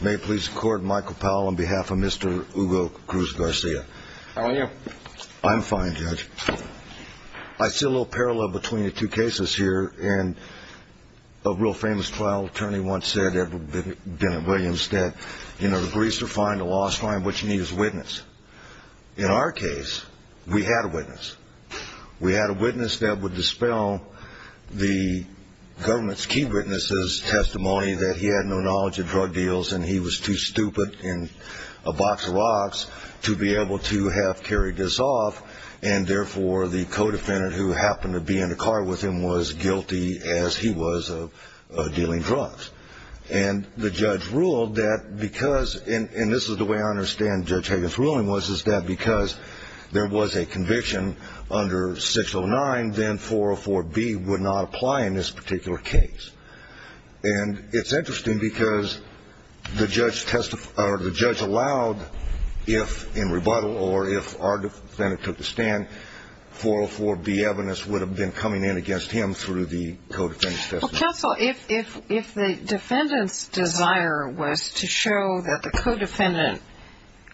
May it please the court, Michael Powell on behalf of Mr. Hugo Cruz-Garcia. How are you? I'm fine, Judge. I see a little parallel between the two cases here. And a real famous trial attorney once said, Edward Bennett Williams, that, you know, the briefs are fine, the law is fine, what you need is a witness. In our case, we had a witness. We had a witness that would dispel the government's key witnesses' testimony that he had no knowledge of drug deals and he was too stupid and a box of rocks to be able to have carried this off, and therefore the co-defendant who happened to be in the car with him was guilty as he was of dealing drugs. And the judge ruled that because, and this is the way I understand Judge Hagin's ruling, was that because there was a conviction under 609, then 404B would not apply in this particular case. And it's interesting because the judge allowed if in rebuttal or if our defendant took the stand, 404B evidence would have been coming in against him through the co-defendant's testimony. Well, counsel, if the defendant's desire was to show that the co-defendant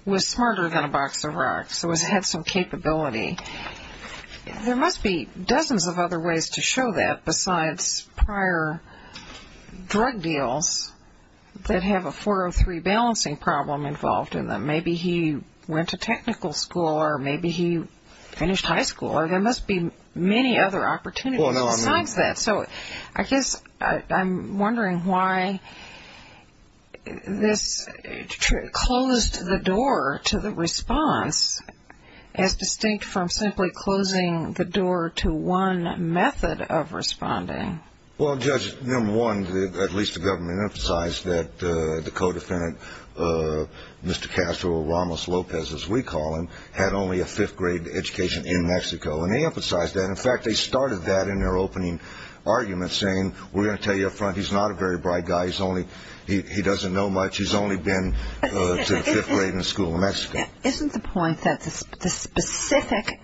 was smarter than a box of rocks, or had some capability, there must be dozens of other ways to show that besides prior drug deals that have a 403 balancing problem involved in them. Maybe he went to technical school or maybe he finished high school, or there must be many other opportunities besides that. So I guess I'm wondering why this closed the door to the response as distinct from simply closing the door to one method of responding. Well, Judge, number one, at least the government emphasized that the co-defendant, Mr. Castro or Ramos Lopez as we call him, had only a fifth-grade education in Mexico. And they emphasized that. In fact, they started that in their opening argument, saying, we're going to tell you up front he's not a very bright guy. He doesn't know much. He's only been to the fifth grade in a school in Mexico. Isn't the point that the specific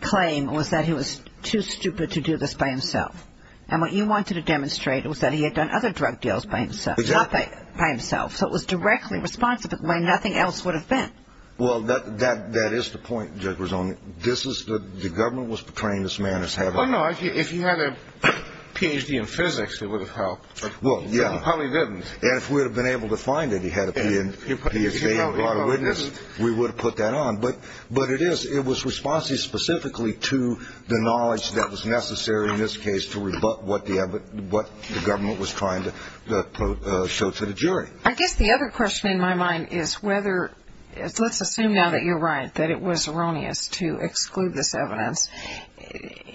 claim was that he was too stupid to do this by himself? And what you wanted to demonstrate was that he had done other drug deals by himself, not by himself. So it was directly responsive of why nothing else would have been. Well, that is the point, Judge Rosano. I mean, the government was portraying this man as having. Well, no, if he had a Ph.D. in physics, it would have helped. Well, yeah. He probably didn't. And if we would have been able to find that he had a Ph.D. in law and witness, we would have put that on. But it was responsive specifically to the knowledge that was necessary in this case to rebut what the government was trying to show to the jury. I guess the other question in my mind is whether, let's assume now that you're right, that it was erroneous to exclude this evidence.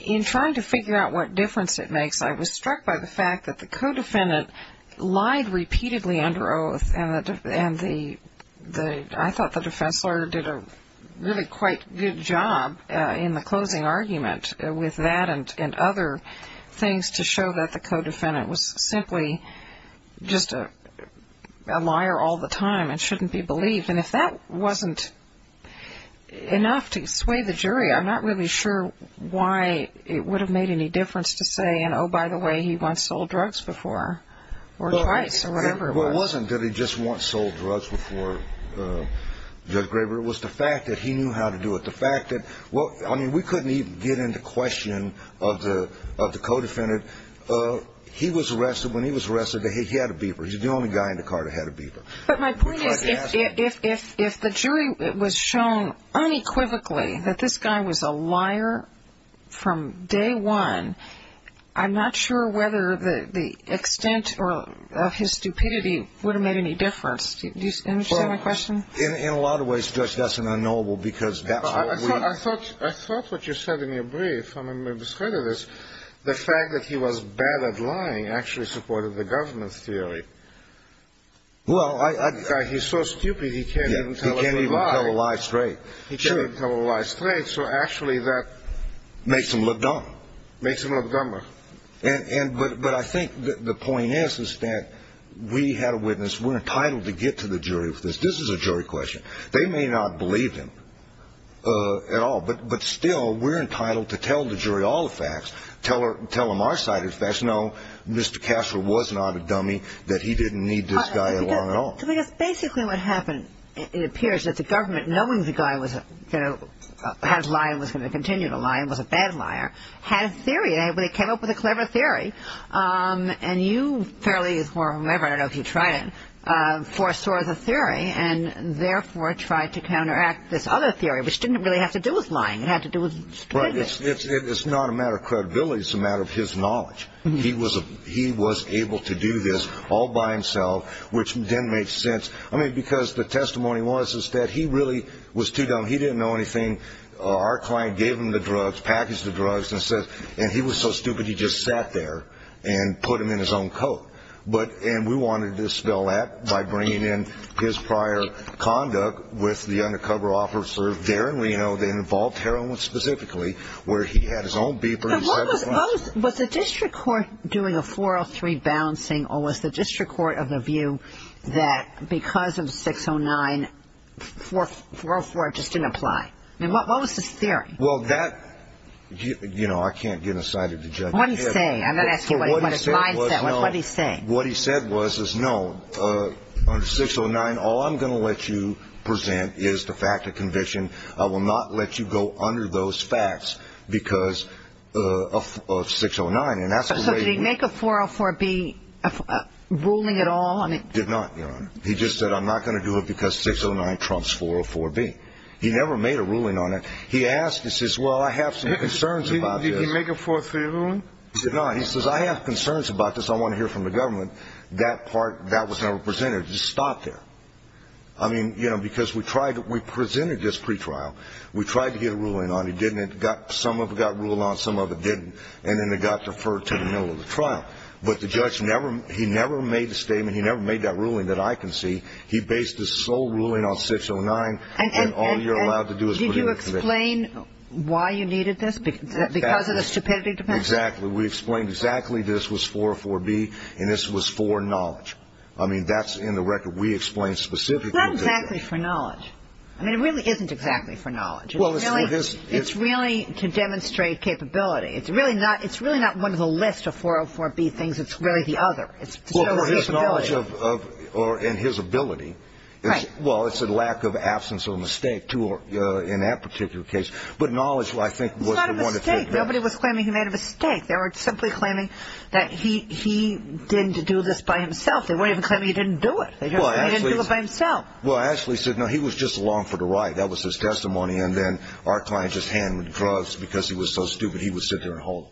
In trying to figure out what difference it makes, I was struck by the fact that the co-defendant lied repeatedly under oath, and I thought the defense lawyer did a really quite good job in the closing argument with that and other things to show that the co-defendant was simply just a liar all the time and shouldn't be believed. And if that wasn't enough to sway the jury, I'm not really sure why it would have made any difference to say, oh, by the way, he once sold drugs before or twice or whatever it was. Well, it wasn't that he just once sold drugs before Judge Graber. It was the fact that he knew how to do it. The fact that, well, I mean, we couldn't even get into question of the co-defendant. He was arrested. When he was arrested, he had a beeper. He was the only guy in the car that had a beeper. But my point is, if the jury was shown unequivocally that this guy was a liar from day one, I'm not sure whether the extent of his stupidity would have made any difference. Do you understand my question? Well, in a lot of ways, Judge, that's an unknowable because that's what we... I thought what you said in your brief, I'm going to discredit this, the fact that he was bad at lying actually supported the government's theory. Well, I... He's so stupid he can't even tell a lie. He can't even tell a lie straight. He can't even tell a lie straight, so actually that... Makes him look dumb. Makes him look dumber. But I think the point is that we had a witness. We're entitled to get to the jury with this. This is a jury question. They may not believe him at all, but still, we're entitled to tell the jury all the facts, tell them our side of the facts. Let us know Mr. Cashler was not a dummy, that he didn't need this guy at all. Because basically what happened, it appears that the government, knowing the guy was going to lie and was going to continue to lie and was a bad liar, had a theory. They came up with a clever theory. And you fairly, or whoever, I don't know if you tried it, foresaw the theory and therefore tried to counteract this other theory, which didn't really have to do with lying. It had to do with stupidity. It's not a matter of credibility. It's a matter of his knowledge. He was able to do this all by himself, which then made sense. I mean, because the testimony was that he really was too dumb. He didn't know anything. Our client gave him the drugs, packaged the drugs, and said, and he was so stupid he just sat there and put them in his own coat. And we wanted to dispel that by bringing in his prior conduct with the undercover officer there in Reno that involved heroin specifically, where he had his own beeper. So was the district court doing a 403 balancing or was the district court of the view that because of 609, 404 just didn't apply? I mean, what was his theory? Well, that, you know, I can't get inside of the judge's head. What did he say? I'm going to ask you what his mindset was. What did he say? What he said was, no, under 609, all I'm going to let you present is the fact of conviction. I will not let you go under those facts because of 609. So did he make a 404B ruling at all? Did not, Your Honor. He just said, I'm not going to do it because 609 trumps 404B. He never made a ruling on it. He asked, he says, well, I have some concerns about this. Did he make a 403 ruling? He did not. He says, I have concerns about this. I want to hear from the government. That part, that was never presented. It just stopped there. I mean, you know, because we tried to, we presented this pretrial. We tried to get a ruling on it. It didn't. Some of it got ruled on, some of it didn't. And then it got deferred to the middle of the trial. But the judge never, he never made a statement, he never made that ruling that I can see. He based his sole ruling on 609 and all you're allowed to do is put it in conviction. And did you explain why you needed this? Because of the stupidity defense? Exactly. We explained exactly this was 404B and this was for knowledge. I mean, that's in the record. We explained specifically. It's not exactly for knowledge. I mean, it really isn't exactly for knowledge. It's really to demonstrate capability. It's really not one of the list of 404B things. It's really the other. Well, for his knowledge and his ability. Right. Well, it's a lack of absence of a mistake in that particular case. But knowledge, I think, was the one to take. It's not a mistake. Nobody was claiming he made a mistake. They were simply claiming that he didn't do this by himself. They weren't even claiming he didn't do it. They didn't do it by himself. Well, Ashley said, no, he was just along for the ride. That was his testimony. And then our client just handed him drugs because he was so stupid he would sit there and hold them.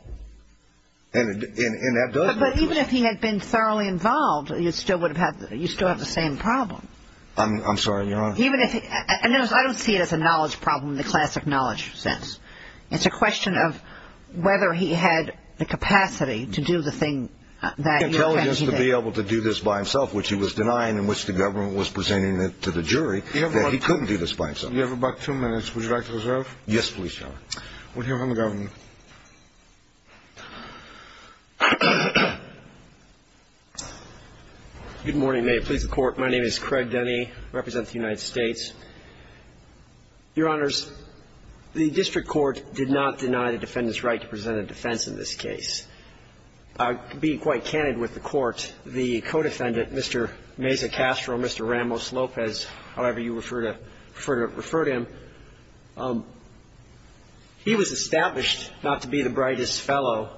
And that does work. But even if he had been thoroughly involved, you still have the same problem. I'm sorry, Your Honor. I don't see it as a knowledge problem in the classic knowledge sense. It's a question of whether he had the capacity to do the thing that he did. Well, he had the chance to be able to do this by himself, which he was denying in which the government was presenting it to the jury, that he couldn't do this by himself. You have about two minutes. Would you like to reserve? Yes, please, Your Honor. We'll hear from the government. Good morning. May it please the Court. My name is Craig Denny. I represent the United States. Your Honors, the district court did not deny the defendant's right to present a defense in this case. To be quite candid with the Court, the co-defendant, Mr. Mesa Castro, Mr. Ramos Lopez, however you prefer to refer to him, he was established not to be the brightest fellow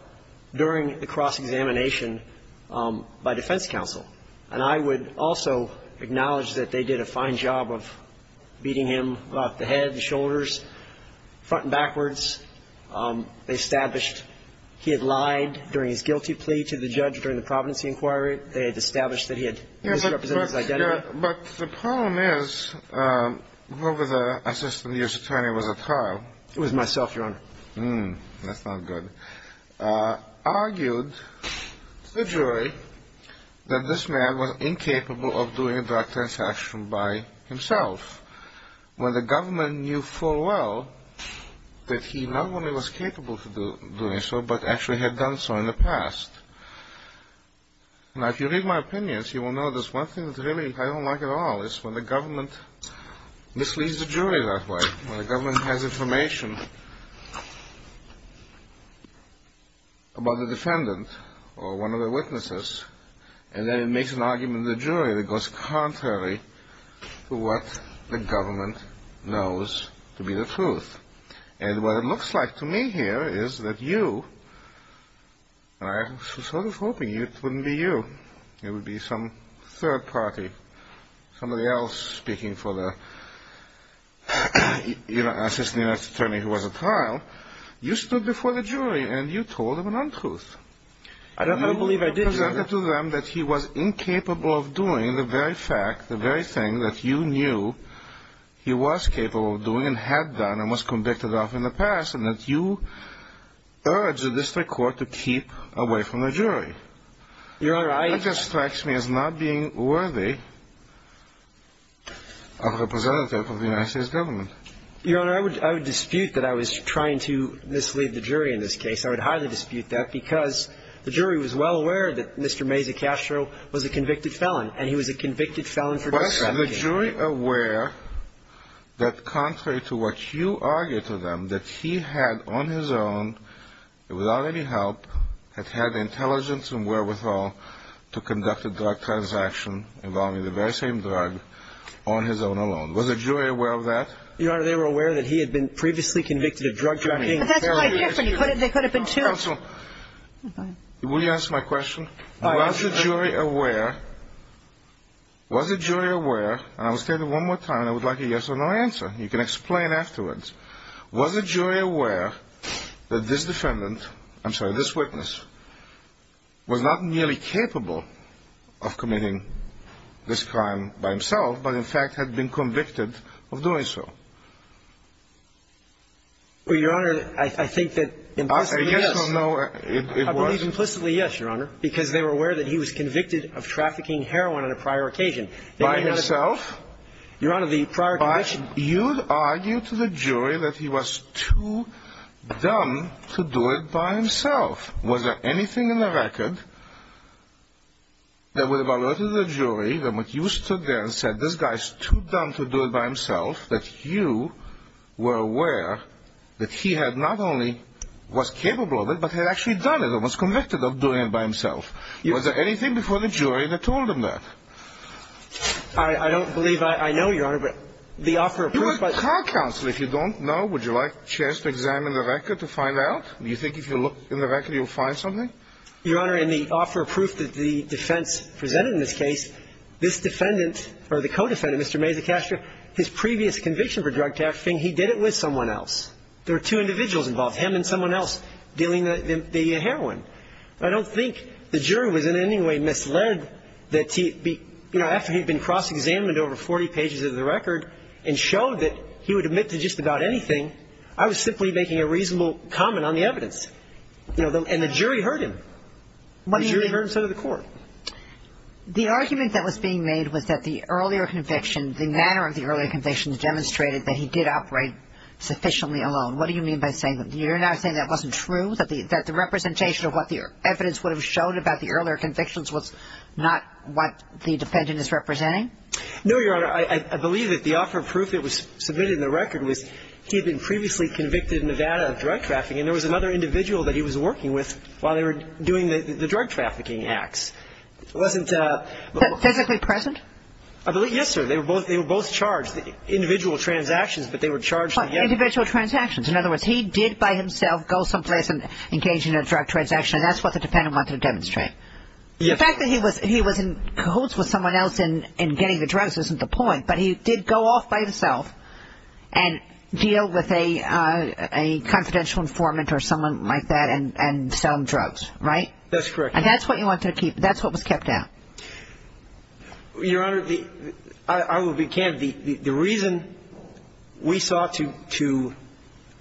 during the cross-examination by defense counsel. And I would also acknowledge that they did a fine job of beating him about the head and shoulders, front and backwards. They established he had lied during his guilty plea to the judge during the Providency Inquiry. They had established that he had misrepresented his identity. But the problem is whoever the assistant U.S. attorney was at trial. It was myself, Your Honor. That's not good. Argued to the jury that this man was incapable of doing a direct transaction by himself. When the government knew full well that he not only was capable of doing so, but actually had done so in the past. Now, if you read my opinions, you will know there's one thing that really I don't like at all. It's when the government misleads the jury that way. When the government has information about the defendant or one of the witnesses, and then it makes an argument to the jury that goes contrary to what the government knows to be the truth. And what it looks like to me here is that you, and I was sort of hoping it wouldn't be you. It would be some third party, somebody else speaking for the assistant U.S. attorney who was at trial. You stood before the jury and you told them an untruth. I don't believe I did. You presented to them that he was incapable of doing the very fact, the very thing that you knew he was capable of doing and had done and was convicted of in the past, and that you urged the district court to keep away from the jury. Your Honor, I That just strikes me as not being worthy of a representative of the United States government. Your Honor, I would dispute that I was trying to mislead the jury in this case. I would highly dispute that because the jury was well aware that Mr. Mazecastro was a convicted felon, and he was a convicted felon for drug trafficking. Was the jury aware that contrary to what you argued to them, that he had on his own, without any help, had had the intelligence and wherewithal to conduct a drug transaction involving the very same drug on his own alone? Was the jury aware of that? Your Honor, they were aware that he had been previously convicted of drug trafficking. But that's quite different. They could have been two. Counsel, will you answer my question? All right. Was the jury aware, and I will state it one more time, and I would like a yes or no answer. You can explain afterwards. Was the jury aware that this defendant, I'm sorry, this witness, was not merely capable of committing this crime by himself, but in fact had been convicted of doing so? Well, Your Honor, I think that implicitly, yes. I believe implicitly, yes, Your Honor, because they were aware that he was convicted of trafficking heroin on a prior occasion. By himself? Your Honor, the prior conviction. You argued to the jury that he was too dumb to do it by himself. Was there anything in the record that would have alerted the jury that when you stood there and said, this guy is too dumb to do it by himself, that you were aware that he had not only was capable of it, but had actually done it or was convicted of doing it by himself? Was there anything before the jury that told him that? I don't believe I know, Your Honor, but the offer of proof. Your Honor, counsel, if you don't know, would you like a chance to examine the record to find out? Do you think if you look in the record, you'll find something? Your Honor, in the offer of proof that the defense presented in this case, this defendant or the co-defendant, Mr. Mazecastro, his previous conviction for drug trafficking, he did it with someone else. There were two individuals involved, him and someone else, dealing the heroin. I don't think the jury was in any way misled that, you know, after he had been cross-examined over 40 pages of the record and showed that he would admit to just about anything, I was simply making a reasonable comment on the evidence. And the jury heard him. The jury heard him, so did the court. The argument that was being made was that the earlier conviction, the manner of the earlier convictions demonstrated that he did operate sufficiently alone. What do you mean by saying that? You're now saying that wasn't true, that the representation of what the evidence would have showed about the earlier convictions was not what the defendant is representing? No, Your Honor. I believe that the offer of proof that was submitted in the record was he had been previously convicted in Nevada of drug trafficking. And there was another individual that he was working with while they were doing the drug trafficking acts. It wasn't the... Physically present? Yes, sir. They were both charged, individual transactions, but they were charged together. Individual transactions. In other words, he did by himself go someplace and engage in a drug transaction, and that's what the defendant wanted to demonstrate. The fact that he was in cahoots with someone else in getting the drugs isn't the point, but he did go off by himself and deal with a confidential informant or someone like that and sell them drugs, right? That's correct. And that's what you want to keep, that's what was kept out. Your Honor, I will be candid. The reason we sought to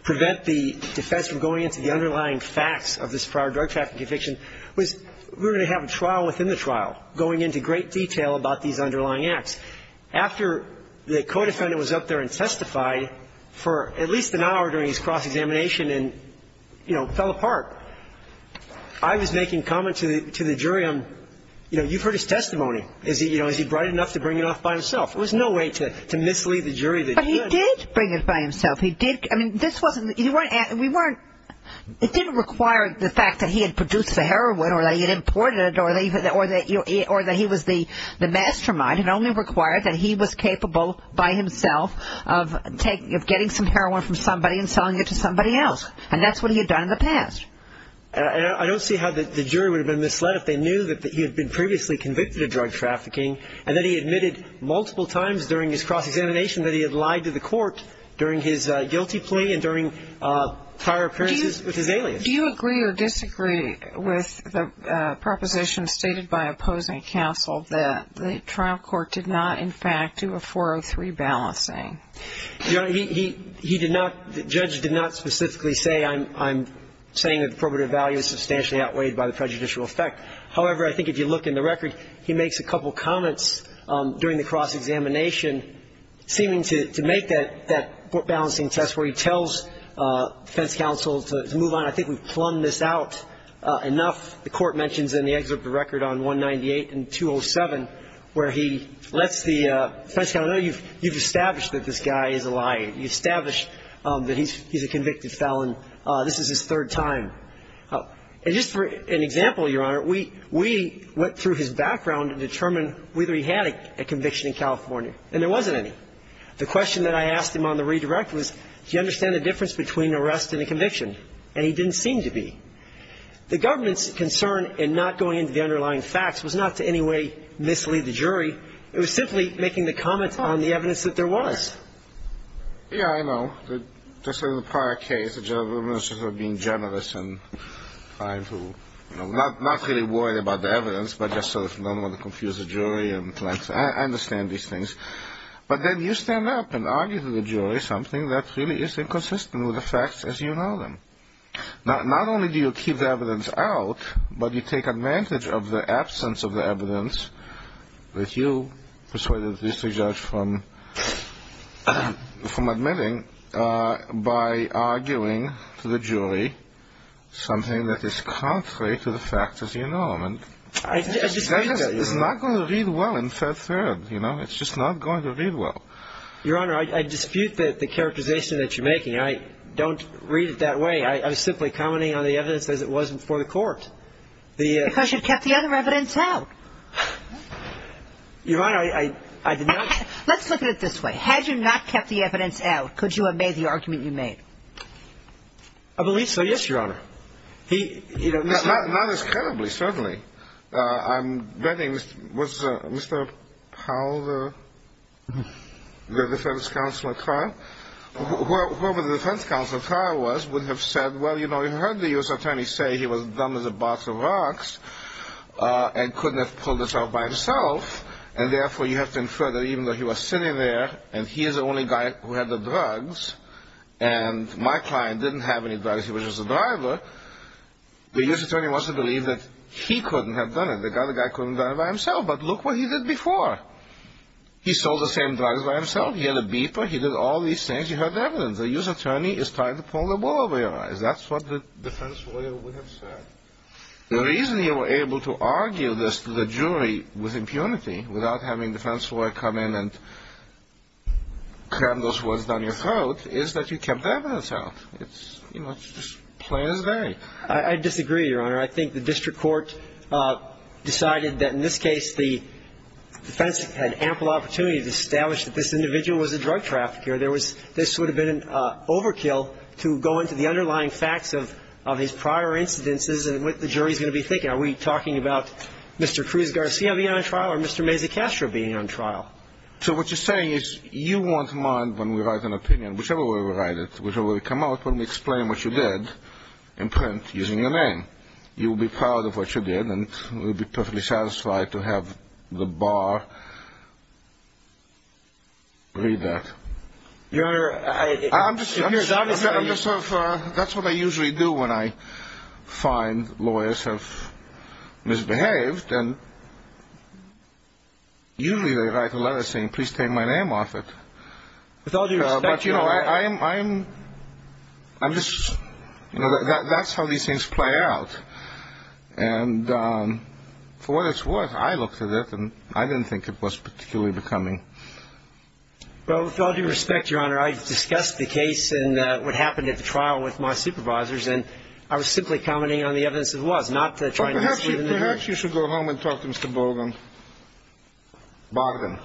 prevent the defense from going into the underlying facts of this prior drug trafficking conviction was we were going to have a trial within the trial going into great detail about these underlying acts. After the co-defendant was up there and testified for at least an hour during his cross-examination and, you know, fell apart, I was making comments to the jury on, you know, you've heard his testimony. Is he, you know, is he bright enough to bring it off by himself? There was no way to mislead the jury that he could. But he did bring it by himself. He did. I mean, this wasn't the... We weren't... It didn't require the fact that he had produced the heroin or that he had imported it or that he was the mastermind. It only required that he was capable by himself of getting some heroin from somebody and selling it to somebody else. And that's what he had done in the past. I don't see how the jury would have been misled if they knew that he had been previously convicted of drug trafficking and that he admitted multiple times during his cross-examination that he had lied to the court during his guilty plea and during prior appearances with his alias. Do you agree or disagree with the proposition stated by opposing counsel that the trial court did not, in fact, do a 403 balancing? Your Honor, he did not, the judge did not specifically say, I'm saying that the probative value is substantially outweighed by the prejudicial effect. However, I think if you look in the record, he makes a couple comments during the cross-examination seeming to make that balancing test where he tells defense counsel to move on. I think we've plumbed this out enough. The court mentions in the excerpt of the record on 198 and 207 where he lets the defense counsel know, you've established that this guy is a liar. You've established that he's a convicted felon. This is his third time. And just for an example, Your Honor, we went through his background to determine whether he had a conviction in California, and there wasn't any. The question that I asked him on the redirect was, do you understand the difference between arrest and a conviction? And he didn't seem to be. The government's concern in not going into the underlying facts was not to in any way mislead the jury. It was simply making the comment on the evidence that there was. Yeah, I know. Just in the prior case, the government was just being generous and trying to, you know, not really worry about the evidence, but just sort of don't want to confuse the jury. I understand these things. But then you stand up and argue to the jury something that really is inconsistent with the facts as you know them. Not only do you keep the evidence out, but you take advantage of the absence of the evidence that you persuaded the district judge from admitting by arguing to the jury something that is contrary to the facts as you know them. It's not going to read well in third, you know. It's just not going to read well. Your Honor, I dispute the characterization that you're making. I don't read it that way. I was simply commenting on the evidence as it was before the court. Because you kept the other evidence out. Your Honor, I did not. Let's look at it this way. Had you not kept the evidence out, could you have made the argument you made? I believe so, yes, Your Honor. Not as credibly, certainly. I'm betting, was Mr. Powell the defense counsel at trial? Whoever the defense counsel at trial was would have said, well, you know, you heard the U.S. attorney say he was dumb as a box of rocks and couldn't have pulled this off by himself, and therefore you have to infer that even though he was sitting there and he is the only guy who had the drugs and my client didn't have any drugs, he was just a driver, the U.S. attorney wants to believe that he couldn't have done it. The other guy couldn't have done it by himself. But look what he did before. He sold the same drugs by himself. He had a beeper. He did all these things. You heard the evidence. The U.S. attorney is trying to pull the wool over your eyes. That's what the defense lawyer would have said. The reason you were able to argue this to the jury with impunity, without having the defense lawyer come in and cram those words down your throat, is that you kept the evidence out. It's just plain as day. I disagree, Your Honor. I think the district court decided that in this case the defense had ample opportunity to establish that this individual was a drug trafficker. This would have been an overkill to go into the underlying facts of his prior incidences and what the jury is going to be thinking. Are we talking about Mr. Cruz-Garcia being on trial or Mr. Mazy-Castro being on trial? So what you're saying is you won't mind when we write an opinion, whichever way we write it, whichever way we come out, when we explain what you did in print using your name. You will be proud of what you did, and we'll be perfectly satisfied to have the bar read that. Your Honor, I'm just curious. What do I do when I find lawyers have misbehaved? Usually they write a letter saying, please take my name off it. With all due respect, Your Honor. That's how these things play out. For what it's worth, I looked at it, and I didn't think it was particularly becoming. Well, with all due respect, Your Honor, I discussed the case and what happened at the trial with my supervisors, and I was simply commenting on the evidence as it was, not trying to sue them. Perhaps you should go home and talk to Mr. Bogan. Bogan.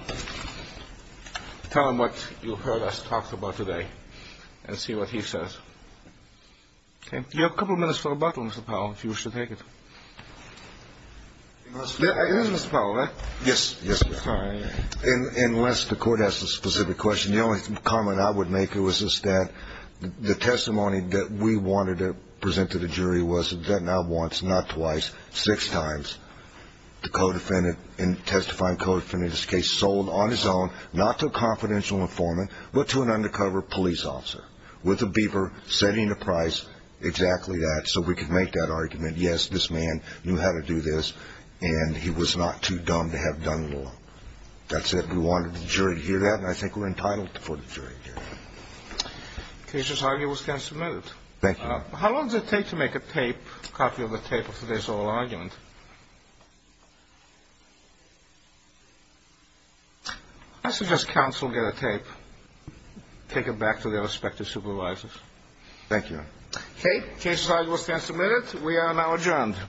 Tell him what you heard us talk about today and see what he says. You have a couple of minutes for rebuttal, Mr. Powell, if you wish to take it. It is Mr. Powell, right? Yes. Unless the court has a specific question. The only comment I would make is that the testimony that we wanted to present to the jury was that now once, not twice, six times the co-defendant in testifying co-defendant in this case sold on his own, not to a confidential informant, but to an undercover police officer with a beeper setting the price exactly that, so we could make that argument, yes, this man knew how to do this, and he was not too dumb to have done it alone. That's it. We wanted the jury to hear that, and I think we're entitled for the jury to hear that. The case's argument stands submitted. Thank you. How long does it take to make a tape, a copy of the tape of today's oral argument? I suggest counsel get a tape, take it back to their respective supervisors. Thank you. Okay. The case's argument stands submitted. We are now adjourned.